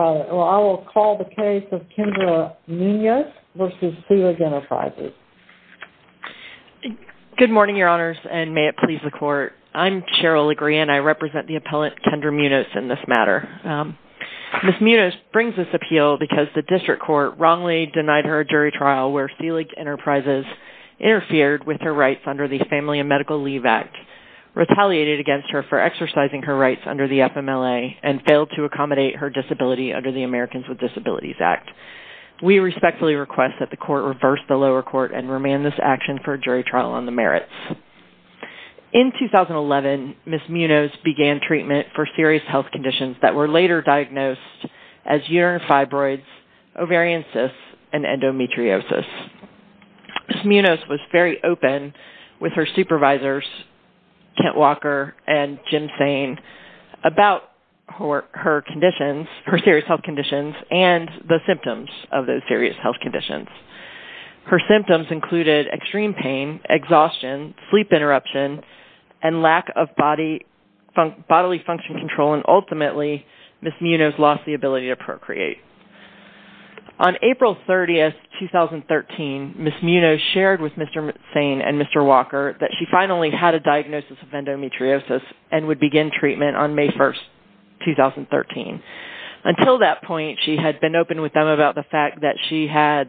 I will call the case of Kendra Munoz v. Selig Enterprises, Inc. Good morning, Your Honors, and may it please the Court. I'm Cheryl Legrand. I represent the appellant, Kendra Munoz, in this matter. Ms. Munoz brings this appeal because the district court wrongly denied her a jury trial where Selig Enterprises interfered with her rights under the Family and Medical Leave Act, retaliated against her for exercising her rights under the FMLA, and failed to accommodate her disability under the Americans with Disabilities Act. We respectfully request that the Court reverse the lower court and remand this action for a jury trial on the merits. In 2011, Ms. Munoz began treatment for serious health conditions that were later diagnosed as urinary fibroids, ovarian cysts, and endometriosis. Ms. Munoz was very open with her supervisors, Kent Walker and Jim Sain, about her serious health conditions and the symptoms of those serious health conditions. Her symptoms included extreme pain, exhaustion, sleep interruption, and lack of bodily function control, and ultimately, Ms. Munoz lost the ability to procreate. On April 30, 2013, Ms. Munoz shared with Mr. Sain and Mr. Walker that she finally had a diagnosis of endometriosis and would begin treatment on May 1, 2013. Until that point, she had been open with them about the fact that she had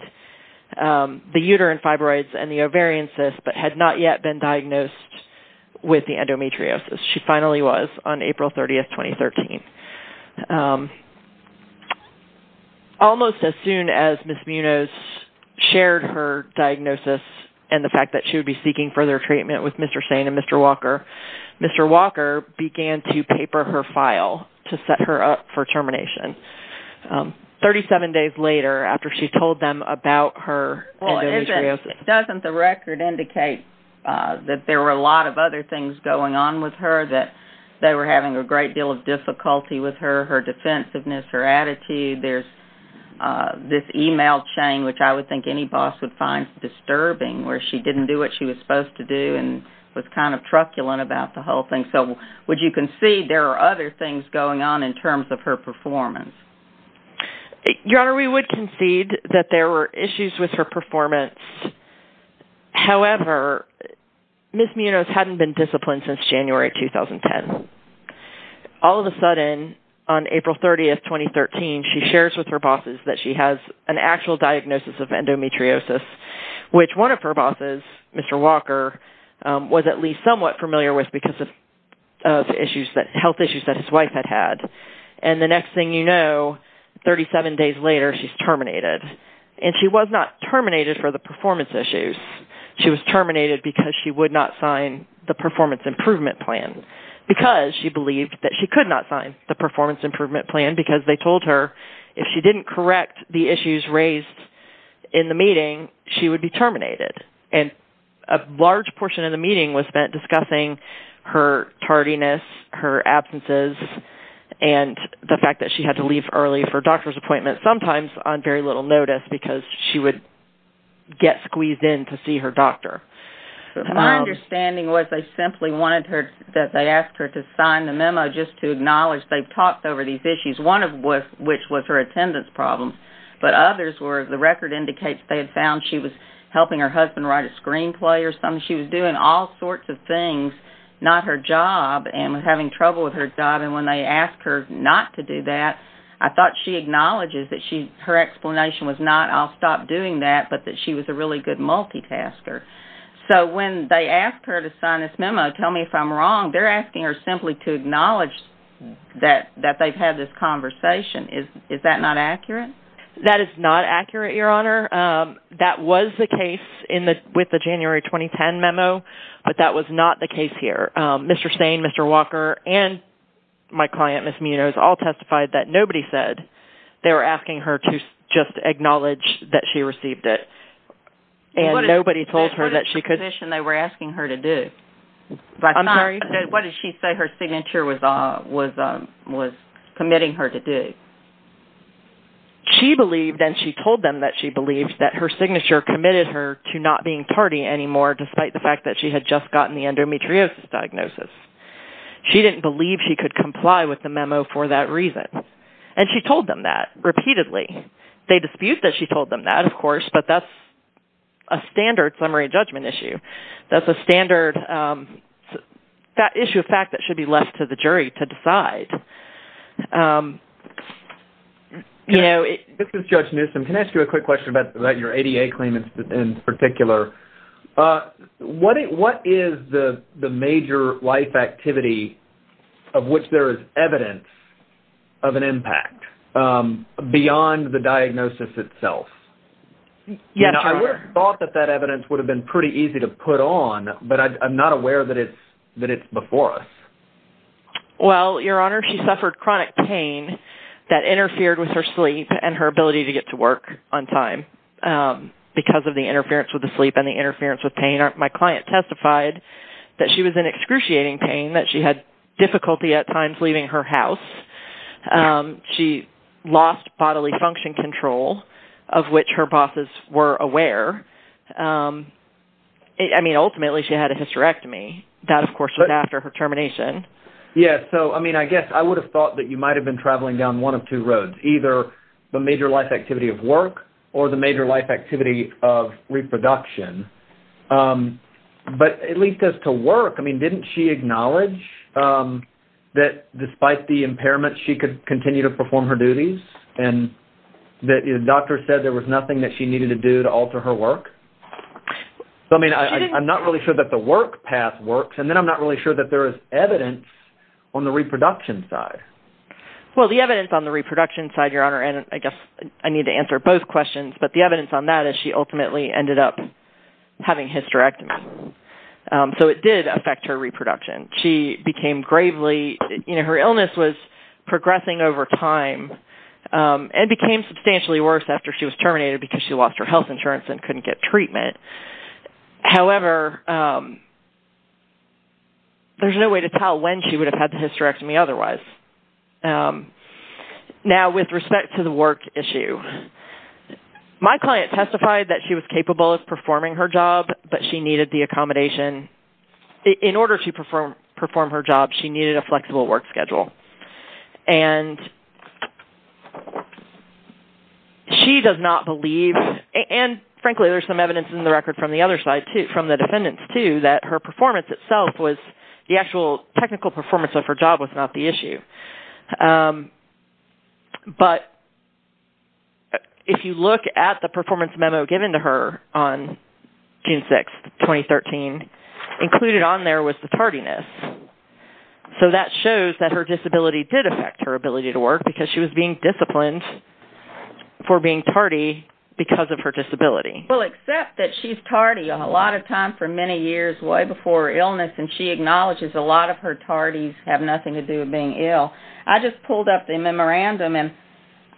the uterine fibroids and the ovarian cysts, but had not yet been diagnosed with the endometriosis. She finally was on April 30, 2013. Almost as soon as Ms. Munoz shared her diagnosis and the fact that she would be seeking further treatment with Mr. Sain and Mr. Walker, Mr. Walker began to paper her file to set her up for termination. 37 days later, after she told them about her endometriosis... Well, doesn't the record indicate that there were a lot of other things going on with her, that they were having a great deal of difficulty with her, her defensiveness, her attitude? There's this email chain, which I would think any boss would find disturbing, where she didn't do what she was supposed to do and was kind of truculent about the whole thing. Would you concede there are other things going on in terms of her performance? Your Honor, we would concede that there were issues with her performance. However, Ms. Munoz hadn't been disciplined since January 2010. All of a sudden, on April 30, 2013, she shares with her bosses that she has an actual diagnosis of endometriosis, which one of her bosses, Mr. Walker, was at least somewhat familiar with because of health issues that his wife had had. And the next thing you know, 37 days later, she's terminated. And she was not terminated for the performance issues. She was terminated because she would not sign the performance improvement plan. Because she believed that she could not sign the performance improvement plan because they told her if she didn't correct the issues raised in the meeting, she would be terminated. And a large portion of the meeting was spent discussing her tardiness, her absences, and the fact that she had to leave early for a doctor's appointment, sometimes on very little notice because she would get squeezed in to see her doctor. My understanding was they simply wanted her, that they asked her to sign the memo just to acknowledge they've talked over these issues, one of which was her attendance problems. But others were the record indicates they had found she was helping her husband write a screenplay or something. She was doing all sorts of things, not her job, and was having trouble with her job. And when they asked her not to do that, I thought she acknowledges that her explanation was not, I'll stop doing that, but that she was a really good multitasker. So when they asked her to sign this memo, tell me if I'm wrong, they're asking her simply to acknowledge that they've had this conversation. Is that not accurate? That is not accurate, Your Honor. That was the case with the January 2010 memo, but that was not the case here. Mr. Stain, Mr. Walker, and my client, Ms. Munoz, all testified that nobody said they were asking her to just acknowledge that she received it. And nobody told her that she could... What is the position they were asking her to do? I'm sorry? What did she say her signature was committing her to do? She believed, and she told them that she believed, that her signature committed her to not being party anymore, despite the fact that she had just gotten the endometriosis diagnosis. She didn't believe she could comply with the memo for that reason. And she told them that, repeatedly. They dispute that she told them that, of course, but that's a standard summary judgment issue. That's a standard issue of fact that should be left to the jury to decide. This is Judge Newsom. Can I ask you a quick question about your ADA claim in particular? What is the major life activity of which there is evidence of an impact beyond the diagnosis itself? I would have thought that that evidence would have been pretty easy to put on, but I'm not aware that it's before us. Well, Your Honor, she suffered chronic pain that interfered with her sleep and her ability to get to work on time, because of the interference with the sleep and the interference with pain. My client testified that she was in excruciating pain, that she had difficulty at times leaving her house. She lost bodily function control, of which her bosses were aware. I mean, ultimately, she had a hysterectomy. That, of course, was after her termination. Yes. So, I mean, I guess I would have thought that you might have been traveling down one of two roads, either the major life activity of work or the major life activity of reproduction. But at least as to work, I mean, didn't she acknowledge that despite the impairment, she could continue to perform her duties? And the doctor said there was nothing that she needed to do to alter her work? So, I mean, I'm not really sure that the work path works, and then I'm not really sure that there is evidence on the reproduction side. Well, the evidence on the reproduction side, Your Honor, and I guess I need to answer both questions, but the evidence on that is she ultimately ended up having hysterectomy. So, it did affect her reproduction. She became gravely, you know, her illness was progressing over time and became substantially worse after she was terminated because she lost her health insurance and couldn't get treatment. However, there's no way to tell when she would have had the hysterectomy otherwise. Now, with respect to the work issue, my client testified that she was capable of performing her job, but she needed the accommodation. In order to perform her job, she needed a flexible work schedule. And she does not believe, and frankly, there's some evidence in the record from the other side too, from the defendants too, that her performance itself was, the actual technical performance of her job was not the issue. But if you look at the performance memo given to her on June 6, 2013, included on there was the tardiness. So, that shows that her disability did affect her ability to work because she was being disciplined for being tardy because of her disability. Well, except that she's tardy a lot of time for many years way before her illness, and she acknowledges a lot of her tardies have nothing to do with being ill. I just pulled up the memorandum, and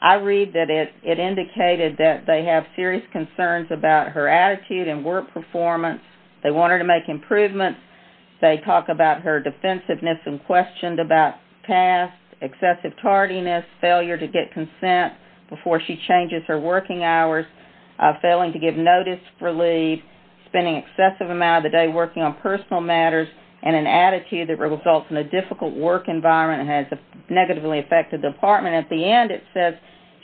I read that it indicated that they have serious concerns about her attitude and work performance. They want her to make improvements. They talk about her defensiveness and questioned about past excessive tardiness, failure to get consent before she changes her working hours, failing to give notice for leave, spending excessive amount of the day working on personal matters, and an attitude that results in a difficult work environment and has negatively affected the department. At the end, it says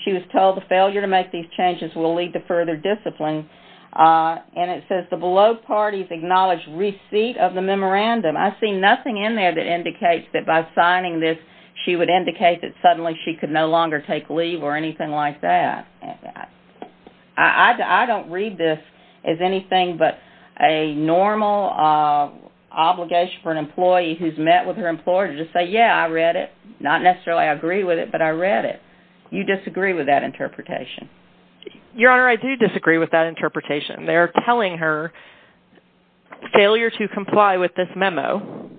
she was told the failure to make these changes will lead to further discipline. And it says the below parties acknowledge receipt of the memorandum. I see nothing in there that indicates that by signing this, she would indicate that suddenly she could no longer take leave or anything like that. I don't read this as anything but a normal obligation for an employee who's met with her employer to just say, yeah, I read it. Not necessarily agree with it, but I read it. You disagree with that interpretation? Your Honor, I do disagree with that interpretation. They're telling her failure to comply with this memo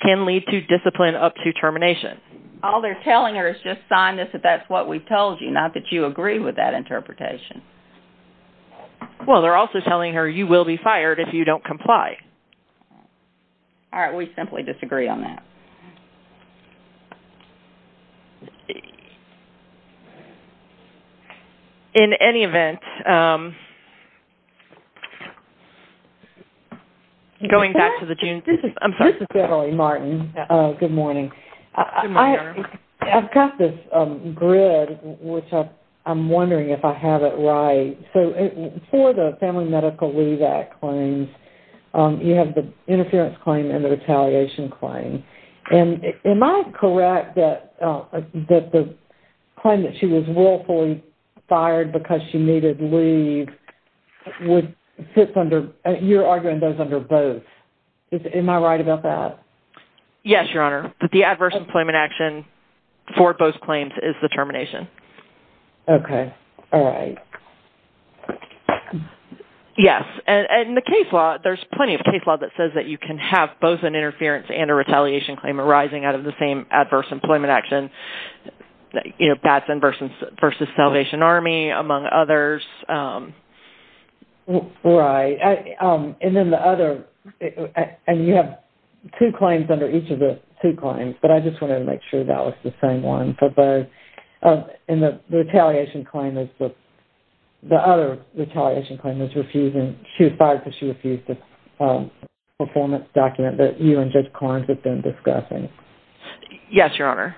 can lead to discipline up to termination. All they're telling her is just sign this if that's what we've told you, not that you agree with that interpretation. Well, they're also telling her you will be fired if you don't comply. All right, we simply disagree on that. In any event, going back to the June... This is Beverly Martin. Good morning. Good morning, Your Honor. I've got this grid, which I'm wondering if I have it right. So for the Family Medical Leave Act claims, you have the interference claim and the retaliation claim. And am I correct that the claim that she was willfully fired because she needed leave would fit under... You're arguing those under both. Am I right about that? Yes, Your Honor. The adverse employment action for both claims is the termination. Okay. All right. Yes. And in the case law, there's plenty of case law that says that you can have both an interference and a retaliation claim arising out of the same adverse employment action. You know, Batson v. Salvation Army, among others. Right. And then the other... And you have two claims under each of the two claims, but I just wanted to make sure that was the same one for both. And the retaliation claim is the... The other retaliation claim is refusing... She was fired because she refused a performance document that you and Judge Karnes had been discussing. Yes, Your Honor.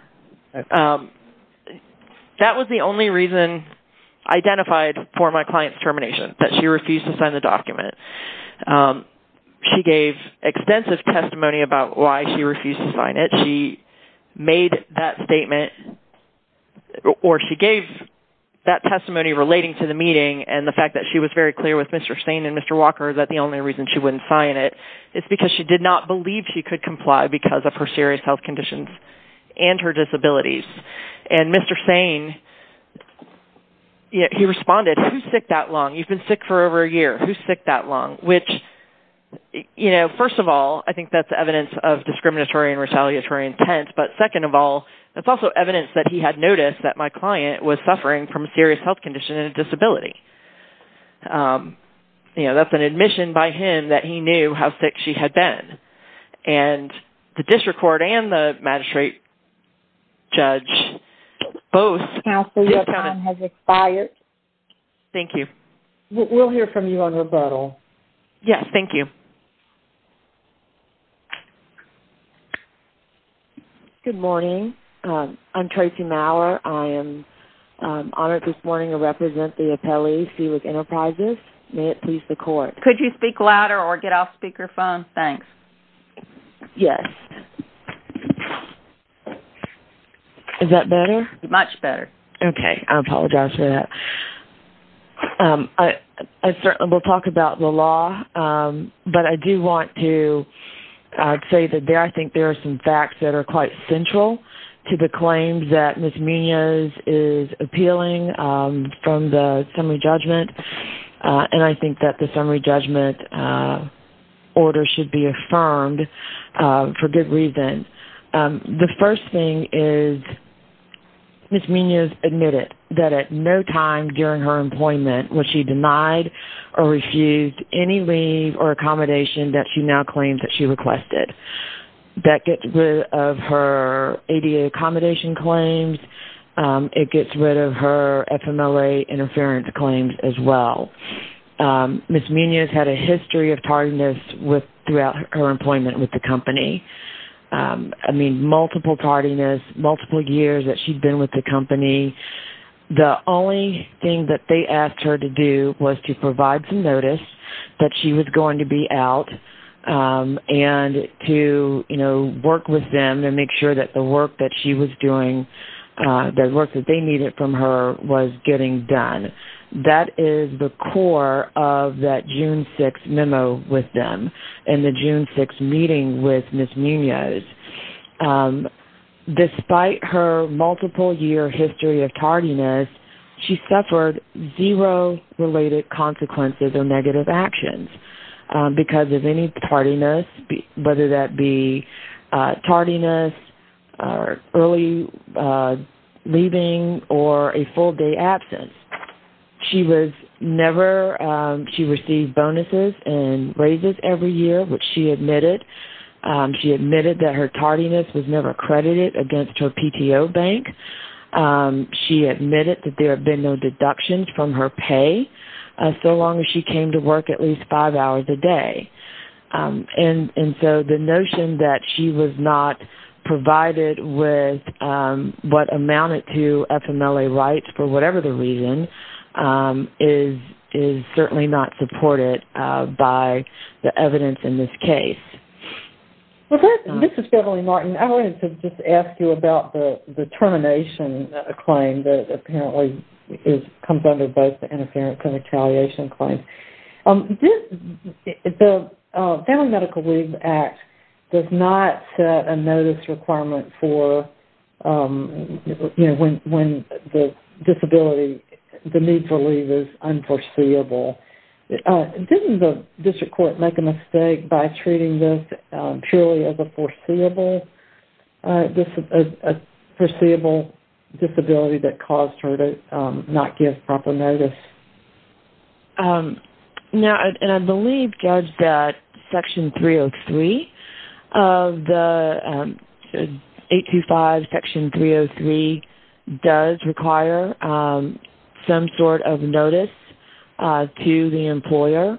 That was the only reason identified for my client's termination, that she refused to sign the document. She gave extensive testimony about why she refused to sign it. She made that statement, or she gave that testimony relating to the meeting and the fact that she was very clear with Mr. Sane and Mr. Walker that the only reason she wouldn't sign it is because she did not believe she could comply because of her serious health conditions and her disabilities. And Mr. Sane, he responded, who's sick that long? You've been sick for over a year. Who's sick that long? Which, you know, first of all, I think that's evidence of discriminatory and retaliatory intent. But second of all, it's also evidence that he had noticed that my client was suffering from a serious health condition and a disability. You know, that's an admission by him that he knew how sick she had been. And the district court and the magistrate judge both... Counsel, your time has expired. Thank you. We'll hear from you on rebuttal. Yes, thank you. Good morning. I'm Tracy Maurer. I am honored this morning to represent the appellee, Sue with Enterprises. May it please the court. Could you speak louder or get off speakerphone? Thanks. Yes. Is that better? Much better. Okay. I apologize for that. I certainly will talk about the law, but I do want to say that I think there are some facts that are quite central to the claims that Ms. Munoz is appealing from the summary judgment. And I think that the summary judgment order should be affirmed for good reason. The first thing is Ms. Munoz admitted that at no time during her employment was she denied or refused any leave or accommodation that she now claims that she requested. That gets rid of her ADA accommodation claims. It gets rid of her FMLA interference claims as well. Ms. Munoz had a history of tardiness throughout her employment with the company. I mean, multiple tardiness, multiple years that she'd been with the company. The only thing that they asked her to do was to provide some notice that she was going to be out and to, you know, work with them and make sure that the work that she was doing, the work that they needed from her, was getting done. That is the core of that June 6th memo with them and the June 6th meeting with Ms. Munoz. Despite her multiple-year history of tardiness, she suffered zero related consequences or negative actions because of any tardiness, whether that be tardiness, early leaving, or a full-day absence. She was never, she received bonuses and raises every year, which she admitted. She admitted that her tardiness was never credited against her PTO bank. She admitted that there had been no deductions from her pay so long as she came to work at least five hours a day. And so the notion that she was not provided with what amounted to FMLA rights for whatever the reason is certainly not supported by the evidence in this case. This is Beverly Martin. I wanted to just ask you about the termination claim that apparently comes under both the interference and retaliation claims. The Family Medical Leave Act does not set a notice requirement for, you know, when the disability, the need for leave is unforeseeable. Didn't the district court make a mistake by treating this purely as a foreseeable disability that caused her to not give proper notice? No, and I believe, Judge, that Section 303 of the 825 Section 303 does require some sort of notice to the employer.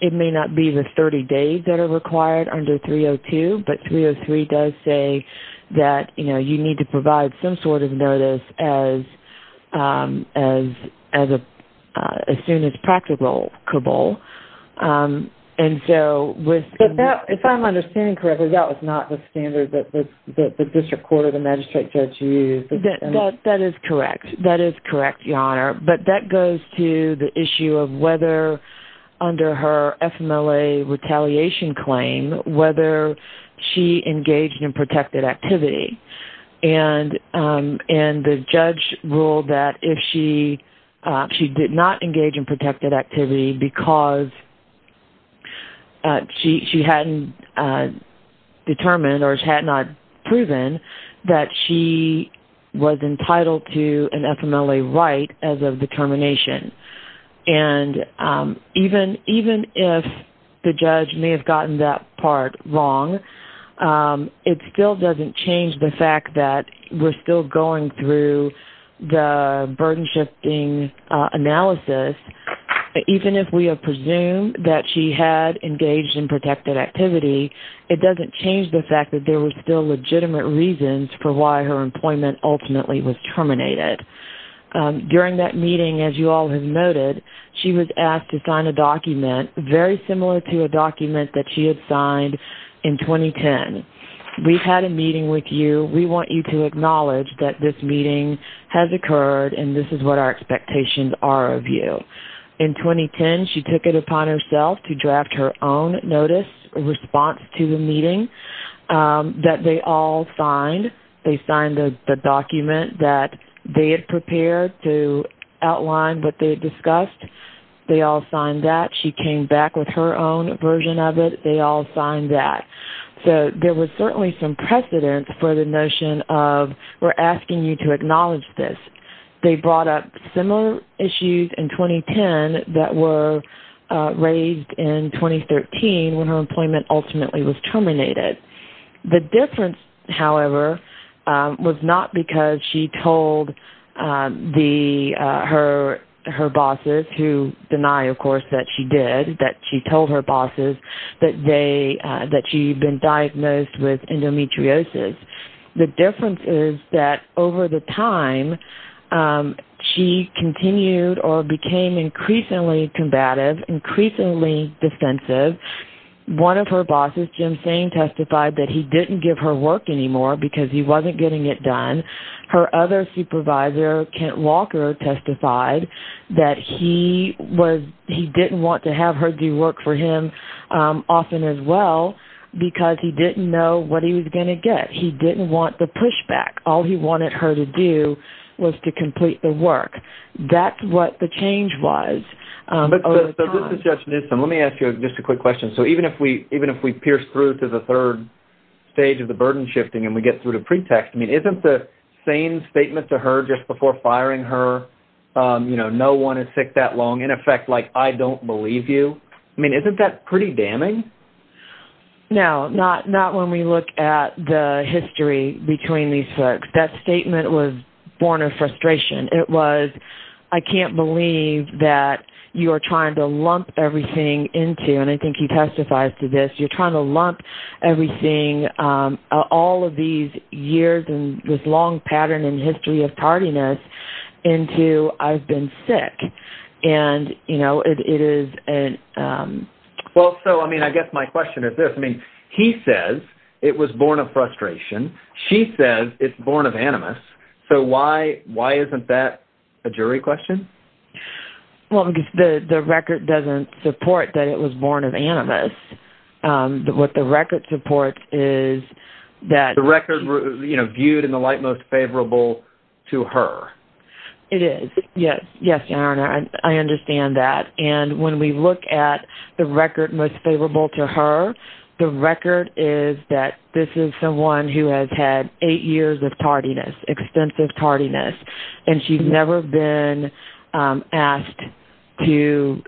It may not be the 30 days that are required under 302, but 303 does say that, you know, you need to provide some sort of notice as soon as practicable. But if I'm understanding correctly, that was not the standard that the district court or the magistrate judge used. That is correct. That is correct, Your Honor. But that goes to the issue of whether under her FMLA retaliation claim, whether she engaged in protected activity. And the judge ruled that if she did not engage in protected activity because she hadn't determined or had not proven that she was entitled to an FMLA right as of determination. And even if the judge may have gotten that part wrong, it still doesn't change the fact that we're still going through the burden-shifting analysis. Even if we have presumed that she had engaged in protected activity, it doesn't change the fact that there were still legitimate reasons for why her employment ultimately was terminated. During that meeting, as you all have noted, she was asked to sign a document very similar to a document that she had signed in 2010. We've had a meeting with you. We want you to acknowledge that this meeting has occurred and this is what our expectations are of you. In 2010, she took it upon herself to draft her own notice response to the meeting that they all signed. They signed the document that they had prepared to outline what they had discussed. They all signed that. She came back with her own version of it. They all signed that. There was certainly some precedent for the notion of we're asking you to acknowledge this. They brought up similar issues in 2010 that were raised in 2013 when her employment ultimately was terminated. The difference, however, was not because she told her bosses, who deny, of course, that she did, that she told her bosses that she had been diagnosed with endometriosis. The difference is that over the time, she continued or became increasingly combative, increasingly defensive. One of her bosses, Jim Sain, testified that he didn't give her work anymore because he wasn't getting it done. Her other supervisor, Kent Walker, testified that he didn't want to have her do work for him often as well because he didn't know what he was going to get. He didn't want the pushback. All he wanted her to do was to complete the work. That's what the change was. This is Judge Newsom. Let me ask you just a quick question. Even if we pierce through to the third stage of the burden shifting and we get through to pretext, isn't the same statement to her just before firing her, no one is sick that long, in effect, I don't believe you, isn't that pretty damning? No, not when we look at the history between these folks. That statement was born of frustration. It was, I can't believe that you are trying to lump everything into, and I think he testifies to this, you're trying to lump everything, all of these years and this long pattern and history of tardiness into I've been sick. I guess my question is this. He says it was born of frustration. She says it's born of animus. Why isn't that a jury question? The record doesn't support that it was born of animus. What the record supports is that... The record viewed in the light most favorable to her. It is. Yes, I understand that. And when we look at the record most favorable to her, the record is that this is someone who has had eight years of tardiness, extensive tardiness, and she's never been asked to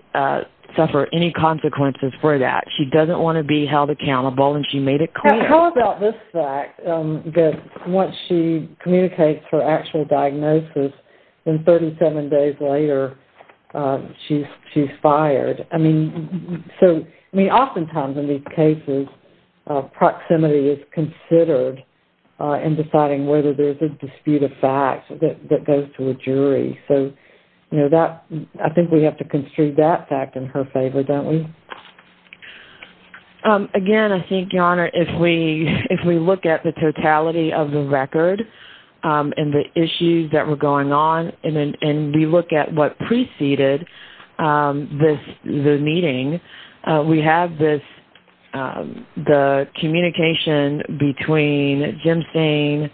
suffer any consequences for that. She doesn't want to be held accountable and she made it clear. How about this fact that once she communicates her actual diagnosis, then 37 days later, she's fired? I mean, oftentimes in these cases, proximity is considered in deciding whether there's a dispute of fact that goes to a jury. So, I think we have to construe that fact in her favor, don't we? Again, I think, Your Honor, if we look at the totality of the record and the issues that were going on and we look at what preceded the meeting, we have the communication between Jim Sain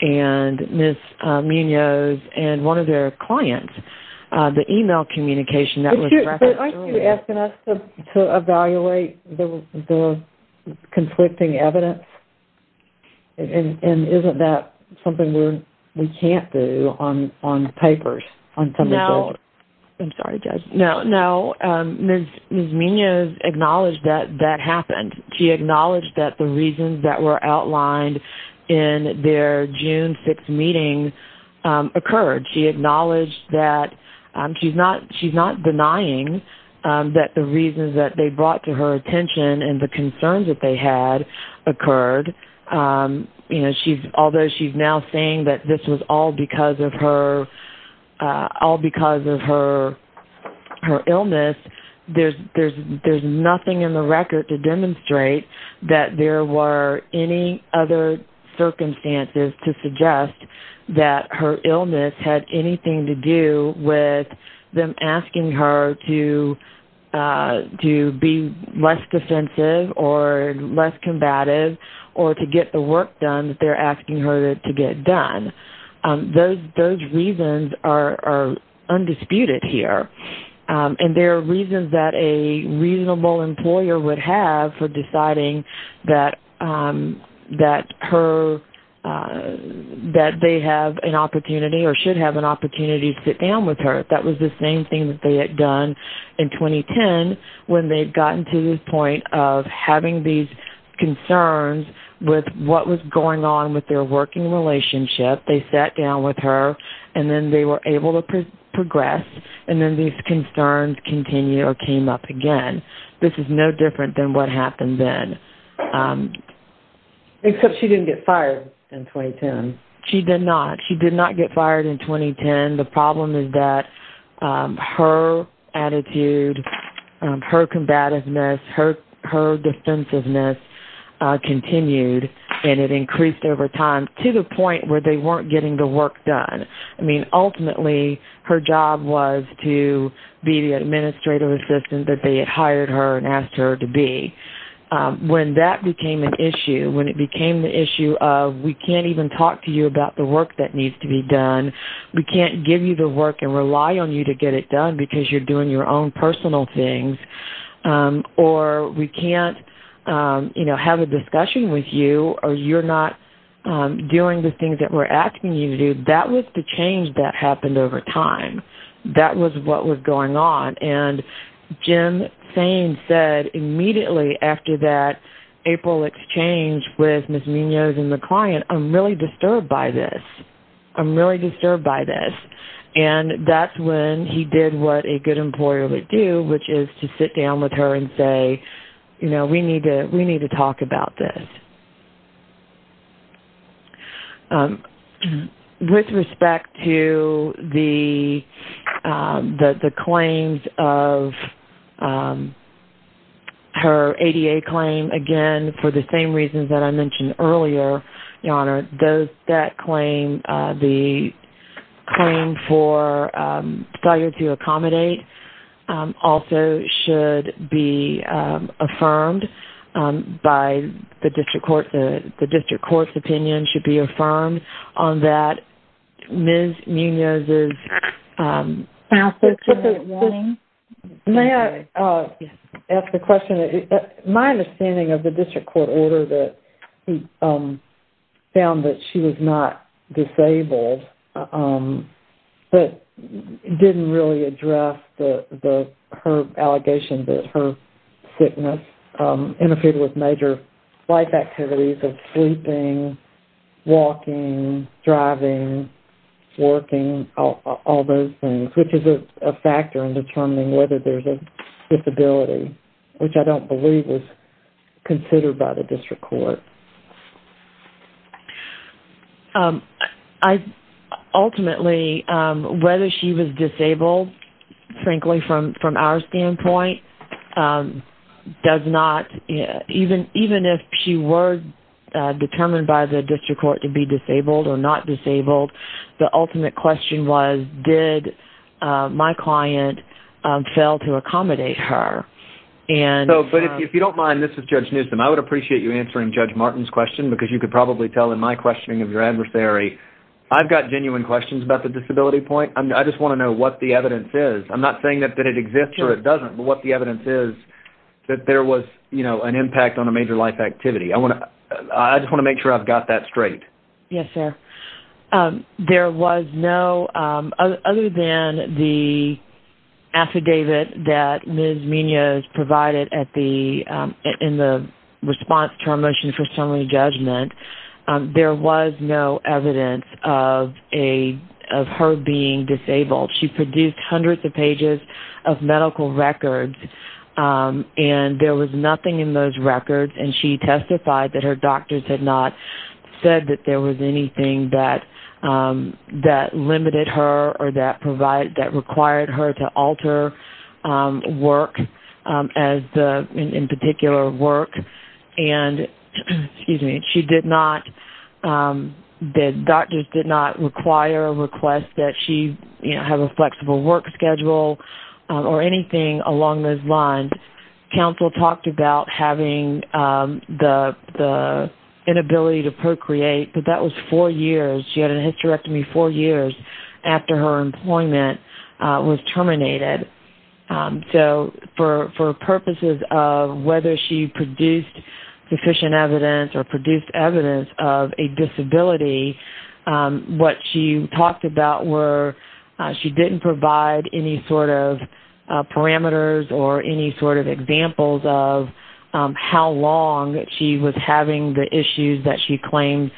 and Ms. Munoz and one of their clients. The email communication that was referenced earlier. Aren't you asking us to evaluate the conflicting evidence? And isn't that something we can't do on papers? No. I'm sorry, Judge. No, no. Ms. Munoz acknowledged that that happened. She acknowledged that the reasons that were outlined in their June 6th meeting occurred. She acknowledged that she's not denying that the reasons that they brought to her attention and the concerns that they had occurred. Although she's now saying that this was all because of her illness, there's nothing in the record to demonstrate that there were any other circumstances to suggest that her illness had anything to do with them asking her to be less defensive or less combative or to get the work done that they're asking her to get done. Those reasons are undisputed here. And there are reasons that a reasonable employer would have for deciding that they have an opportunity or should have an opportunity to sit down with her. That was the same thing that they had done in 2010 when they'd gotten to this point of having these concerns with what was going on with their working relationship. They sat down with her and then they were able to progress. And then these concerns continued or came up again. This is no different than what happened then. Except she didn't get fired in 2010. She did not. She did not get fired in 2010. The problem is that her attitude, her combativeness, her defensiveness continued and it increased over time to the point where they weren't getting the work done. I mean, ultimately, her job was to be the administrative assistant that they had hired her and asked her to be. When that became an issue, when it became the issue of we can't even talk to you about the work that needs to be done, we can't give you the work and rely on you to get it done because you're doing your own personal things, or we can't have a discussion with you or you're not doing the things that we're asking you to do, that was the change that happened over time. That was what was going on. And Jim Sain said immediately after that April exchange with Ms. Munoz and the client, I'm really disturbed by this. I'm really disturbed by this. And that's when he did what a good employer would do, which is to sit down with her and say, you know, we need to talk about this. With respect to the claims of her ADA claim, again, for the same reasons that I mentioned earlier, Your Honor, that claim, the claim for failure to accommodate also should be affirmed by the district court. The district court's opinion should be affirmed on that. Ms. Munoz's... May I ask a question? My understanding of the district court order that he found that she was not disabled but didn't really address her allegation that her sickness interfered with major life activities of sleeping, walking, driving, working, all those things, which is a factor in determining whether there's a disability, which I don't believe was considered by the district court. Ultimately, whether she was disabled, frankly, from our standpoint, does not, even if she were determined by the district court to be disabled or not disabled, the ultimate question was, did my client fail to accommodate her? But if you don't mind, this is Judge Newsom. I would appreciate you answering Judge Martin's question because you could probably tell in my questioning of your adversary, I've got genuine questions about the disability point. I just want to know what the evidence is. I'm not saying that it exists or it doesn't, but what the evidence is that there was an impact on a major life activity. I just want to make sure I've got that straight. Yes, sir. There was no, other than the affidavit that Ms. Munoz provided in the response to our motion for summary judgment, there was no evidence of her being disabled. She produced hundreds of pages of medical records, and there was nothing in those records, and she testified that her doctors had not said that there was anything that limited her or that required her to alter work, in particular work. And she did not, the doctors did not require or request that she have a flexible work schedule or anything along those lines. And counsel talked about having the inability to procreate, but that was four years. She had a hysterectomy four years after her employment was terminated. So for purposes of whether she produced sufficient evidence or produced evidence of a disability, what she talked about were she didn't provide any sort of parameters or any sort of examples of how long she was having the issues that she claimed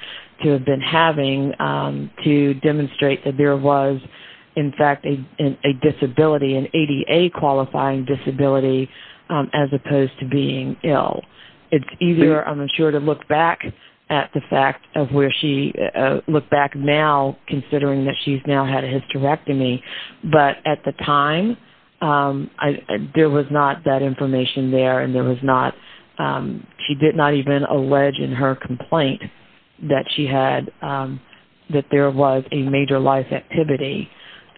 to have been having to demonstrate that there was, in fact, a disability, an ADA-qualifying disability, as opposed to being ill. It's easier, I'm sure, to look back at the fact of where she, look back now, considering that she's now had a hysterectomy. But at the time, there was not that information there, and there was not, she did not even allege in her complaint that she had, that there was a major life activity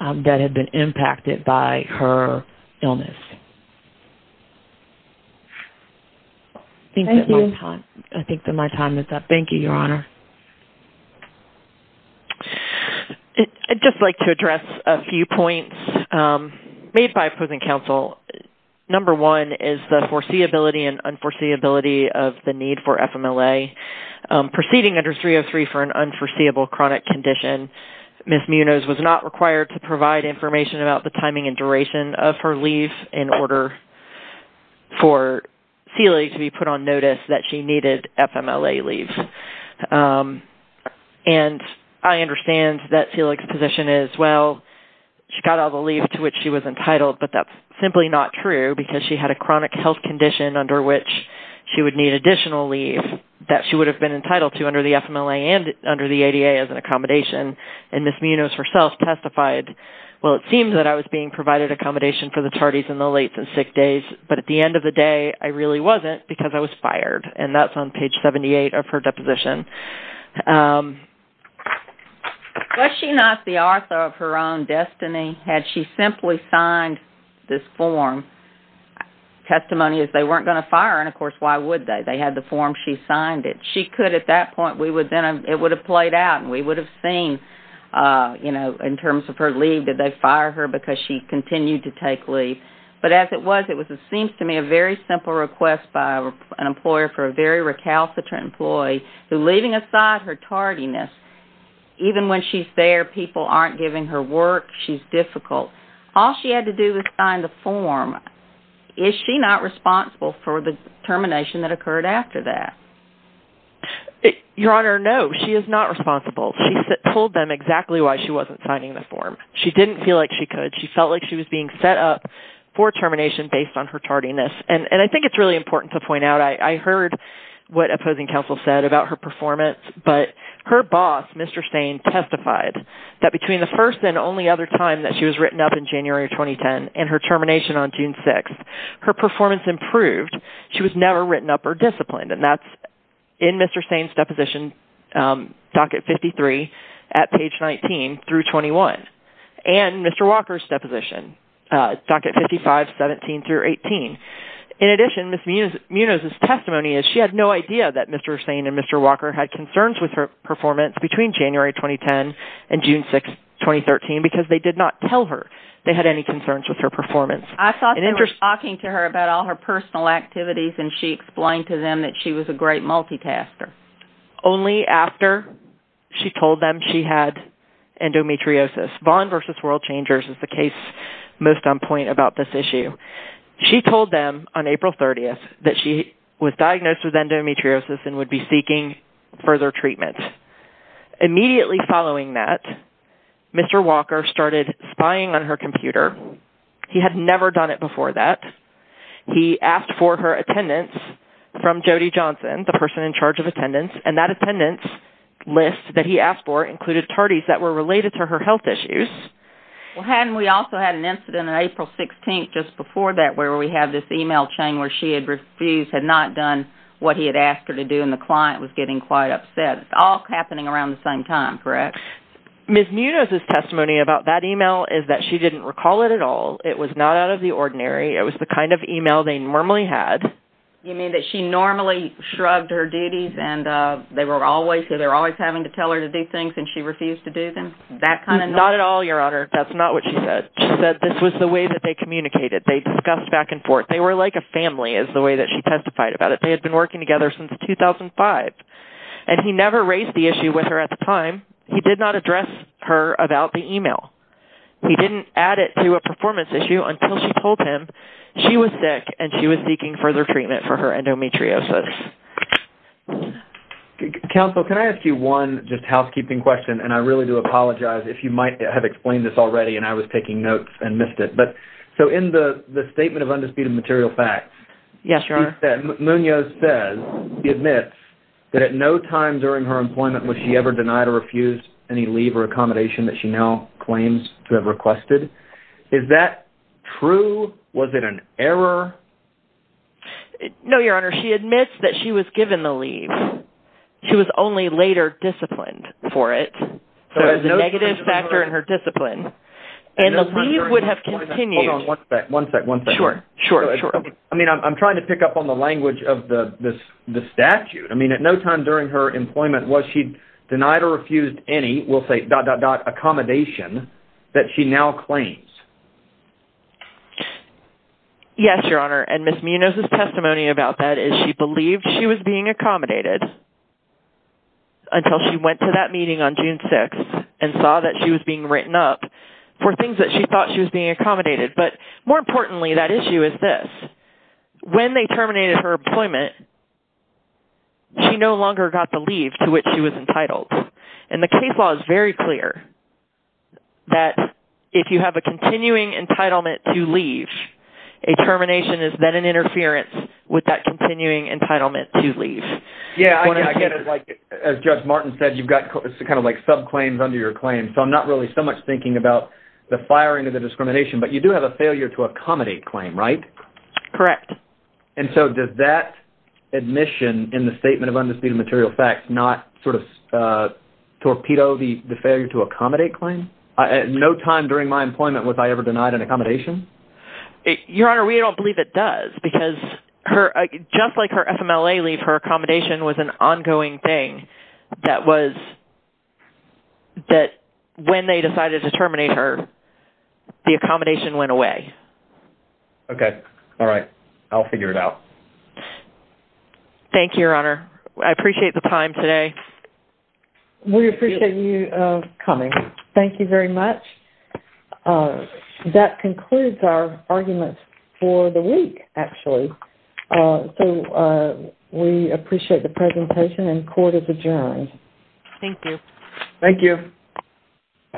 that had been impacted by her illness. Thank you. I think that my time is up. Thank you, Your Honor. I'd just like to address a few points made by opposing counsel. Number one is the foreseeability and unforeseeability of the need for FMLA. Proceeding under 303 for an unforeseeable chronic condition, Ms. Munoz was not required to provide information about the timing and duration of her leave in order for Sealy to be put on notice that she needed FMLA leave. And I understand that Sealy's position is, well, she got all the leave to which she was entitled, but that's simply not true because she had a chronic health condition under which she would need additional leave that she would have been entitled to under the FMLA and under the ADA as an accommodation. And Ms. Munoz herself testified, well, it seems that I was being provided accommodation for the tardies in the late and sick days, but at the end of the day, I really wasn't because I was fired. And that's on page 78 of her deposition. Was she not the author of her own destiny? Had she simply signed this form, testimony is they weren't going to fire her, and of course, why would they? They had the form, she signed it. She could at that point, it would have played out and we would have seen in terms of her leave, did they fire her because she continued to take leave. But as it was, it seems to me a very simple request by an employer for a very recalcitrant employee who leaving aside her tardiness, even when she's there, people aren't giving her work. She's difficult. All she had to do was sign the form. Is she not responsible for the termination that occurred after that? Your Honor, no, she is not responsible. She told them exactly why she wasn't signing the form. She didn't feel like she could. She felt like she was being set up for termination based on her tardiness. It's important to point out, I heard what opposing counsel said about her performance, but her boss, Mr. Sain, testified that between the first and only other time that she was written up in January 2010 and her termination on June 6th, her performance improved. She was never written up or disciplined and that's in Mr. Sain's deposition, docket 53 at page 19 through 21 and Mr. Walker's deposition, docket 55, 17 through 18. In addition, Ms. Munoz's testimony is she had no idea that Mr. Sain and Mr. Walker had concerns with her performance between January 2010 and June 6th, 2013 because they did not tell her they had any concerns with her performance. I thought they were talking to her about all her personal activities and she explained to them that she was a great multitasker. Only after she told them she had endometriosis. Vaughn versus World Changers is the case most on point about this issue. She told them on April 30th that she was diagnosed with endometriosis and would be seeking further treatment. Immediately following that, Mr. Walker started spying on her computer. He had never done it before that. He asked for her attendance from Jody Johnson, the person in charge of attendance and that attendance list that he asked for included tardies that were related to her health issues. Well hadn't we also had an incident on April 16th just before that where we have this email chain where she had refused, had not done what he had asked her to do and the client was getting quite upset. It's all happening around the same time, correct? Ms. Munoz's testimony about that email is that she didn't recall it at all. It was not out of the ordinary. It was the kind of email they normally had. You mean that she normally shrugged her duties and they were always, they were always having to tell her to do things and she refused to do them? Not at all, Your Honor. It was the way that they communicated. They discussed back and forth. They were like a family is the way that she testified about it. They had been working together since 2005 and he never raised the issue with her at the time. He did not address her about the email. He didn't add it to a performance issue until she told him she was sick and she was seeking further treatment for her endometriosis. Counsel, can I ask you one just housekeeping question and I really do apologize if you might have explained this already but so in the Statement of Undisputed Material Facts Yes, Your Honor. Munoz says, he admits that at no time during her employment was she ever denied or refused any leave or accommodation that she now claims to have requested. Is that true? Was it an error? No, Your Honor. She admits that she was given the leave. She was only later disciplined for it. So it was a negative factor in her discipline and the leave would have continued. Hold on one second. Sure, sure. I'm trying to pick up on the language of the statute. I mean at no time during her employment was she denied or refused any, we'll say dot, dot, dot, accommodation that she now claims. Yes, Your Honor. And Ms. Munoz's testimony about that is she believed she was being accommodated until she went to that meeting on June 6th and saw that she was being written up for things that she thought she was being accommodated. But more importantly, that issue is this. When they terminated her employment, she no longer got the leave to which she was entitled. And the case law is very clear that if you have a continuing entitlement to leave, a termination is then an interference with that continuing entitlement to leave. Yeah, I get it. As Judge Martin said, you've got kind of like subclaims under your claim. You've got the firing of the discrimination. But you do have a failure to accommodate claim, right? Correct. And so does that admission in the statement of undisputed material facts not sort of torpedo the failure to accommodate claim? At no time during my employment was I ever denied an accommodation? Your Honor, we don't believe it does because just like her FMLA leave, her accommodation was an ongoing thing that when they decided to terminate her, the accommodation went away. Okay. All right. I'll figure it out. Thank you, Your Honor. I appreciate the time today. We appreciate you coming. Thank you very much. That concludes our arguments for the week, actually. So we appreciate the presentation and court is adjourned. Thank you. Thank you.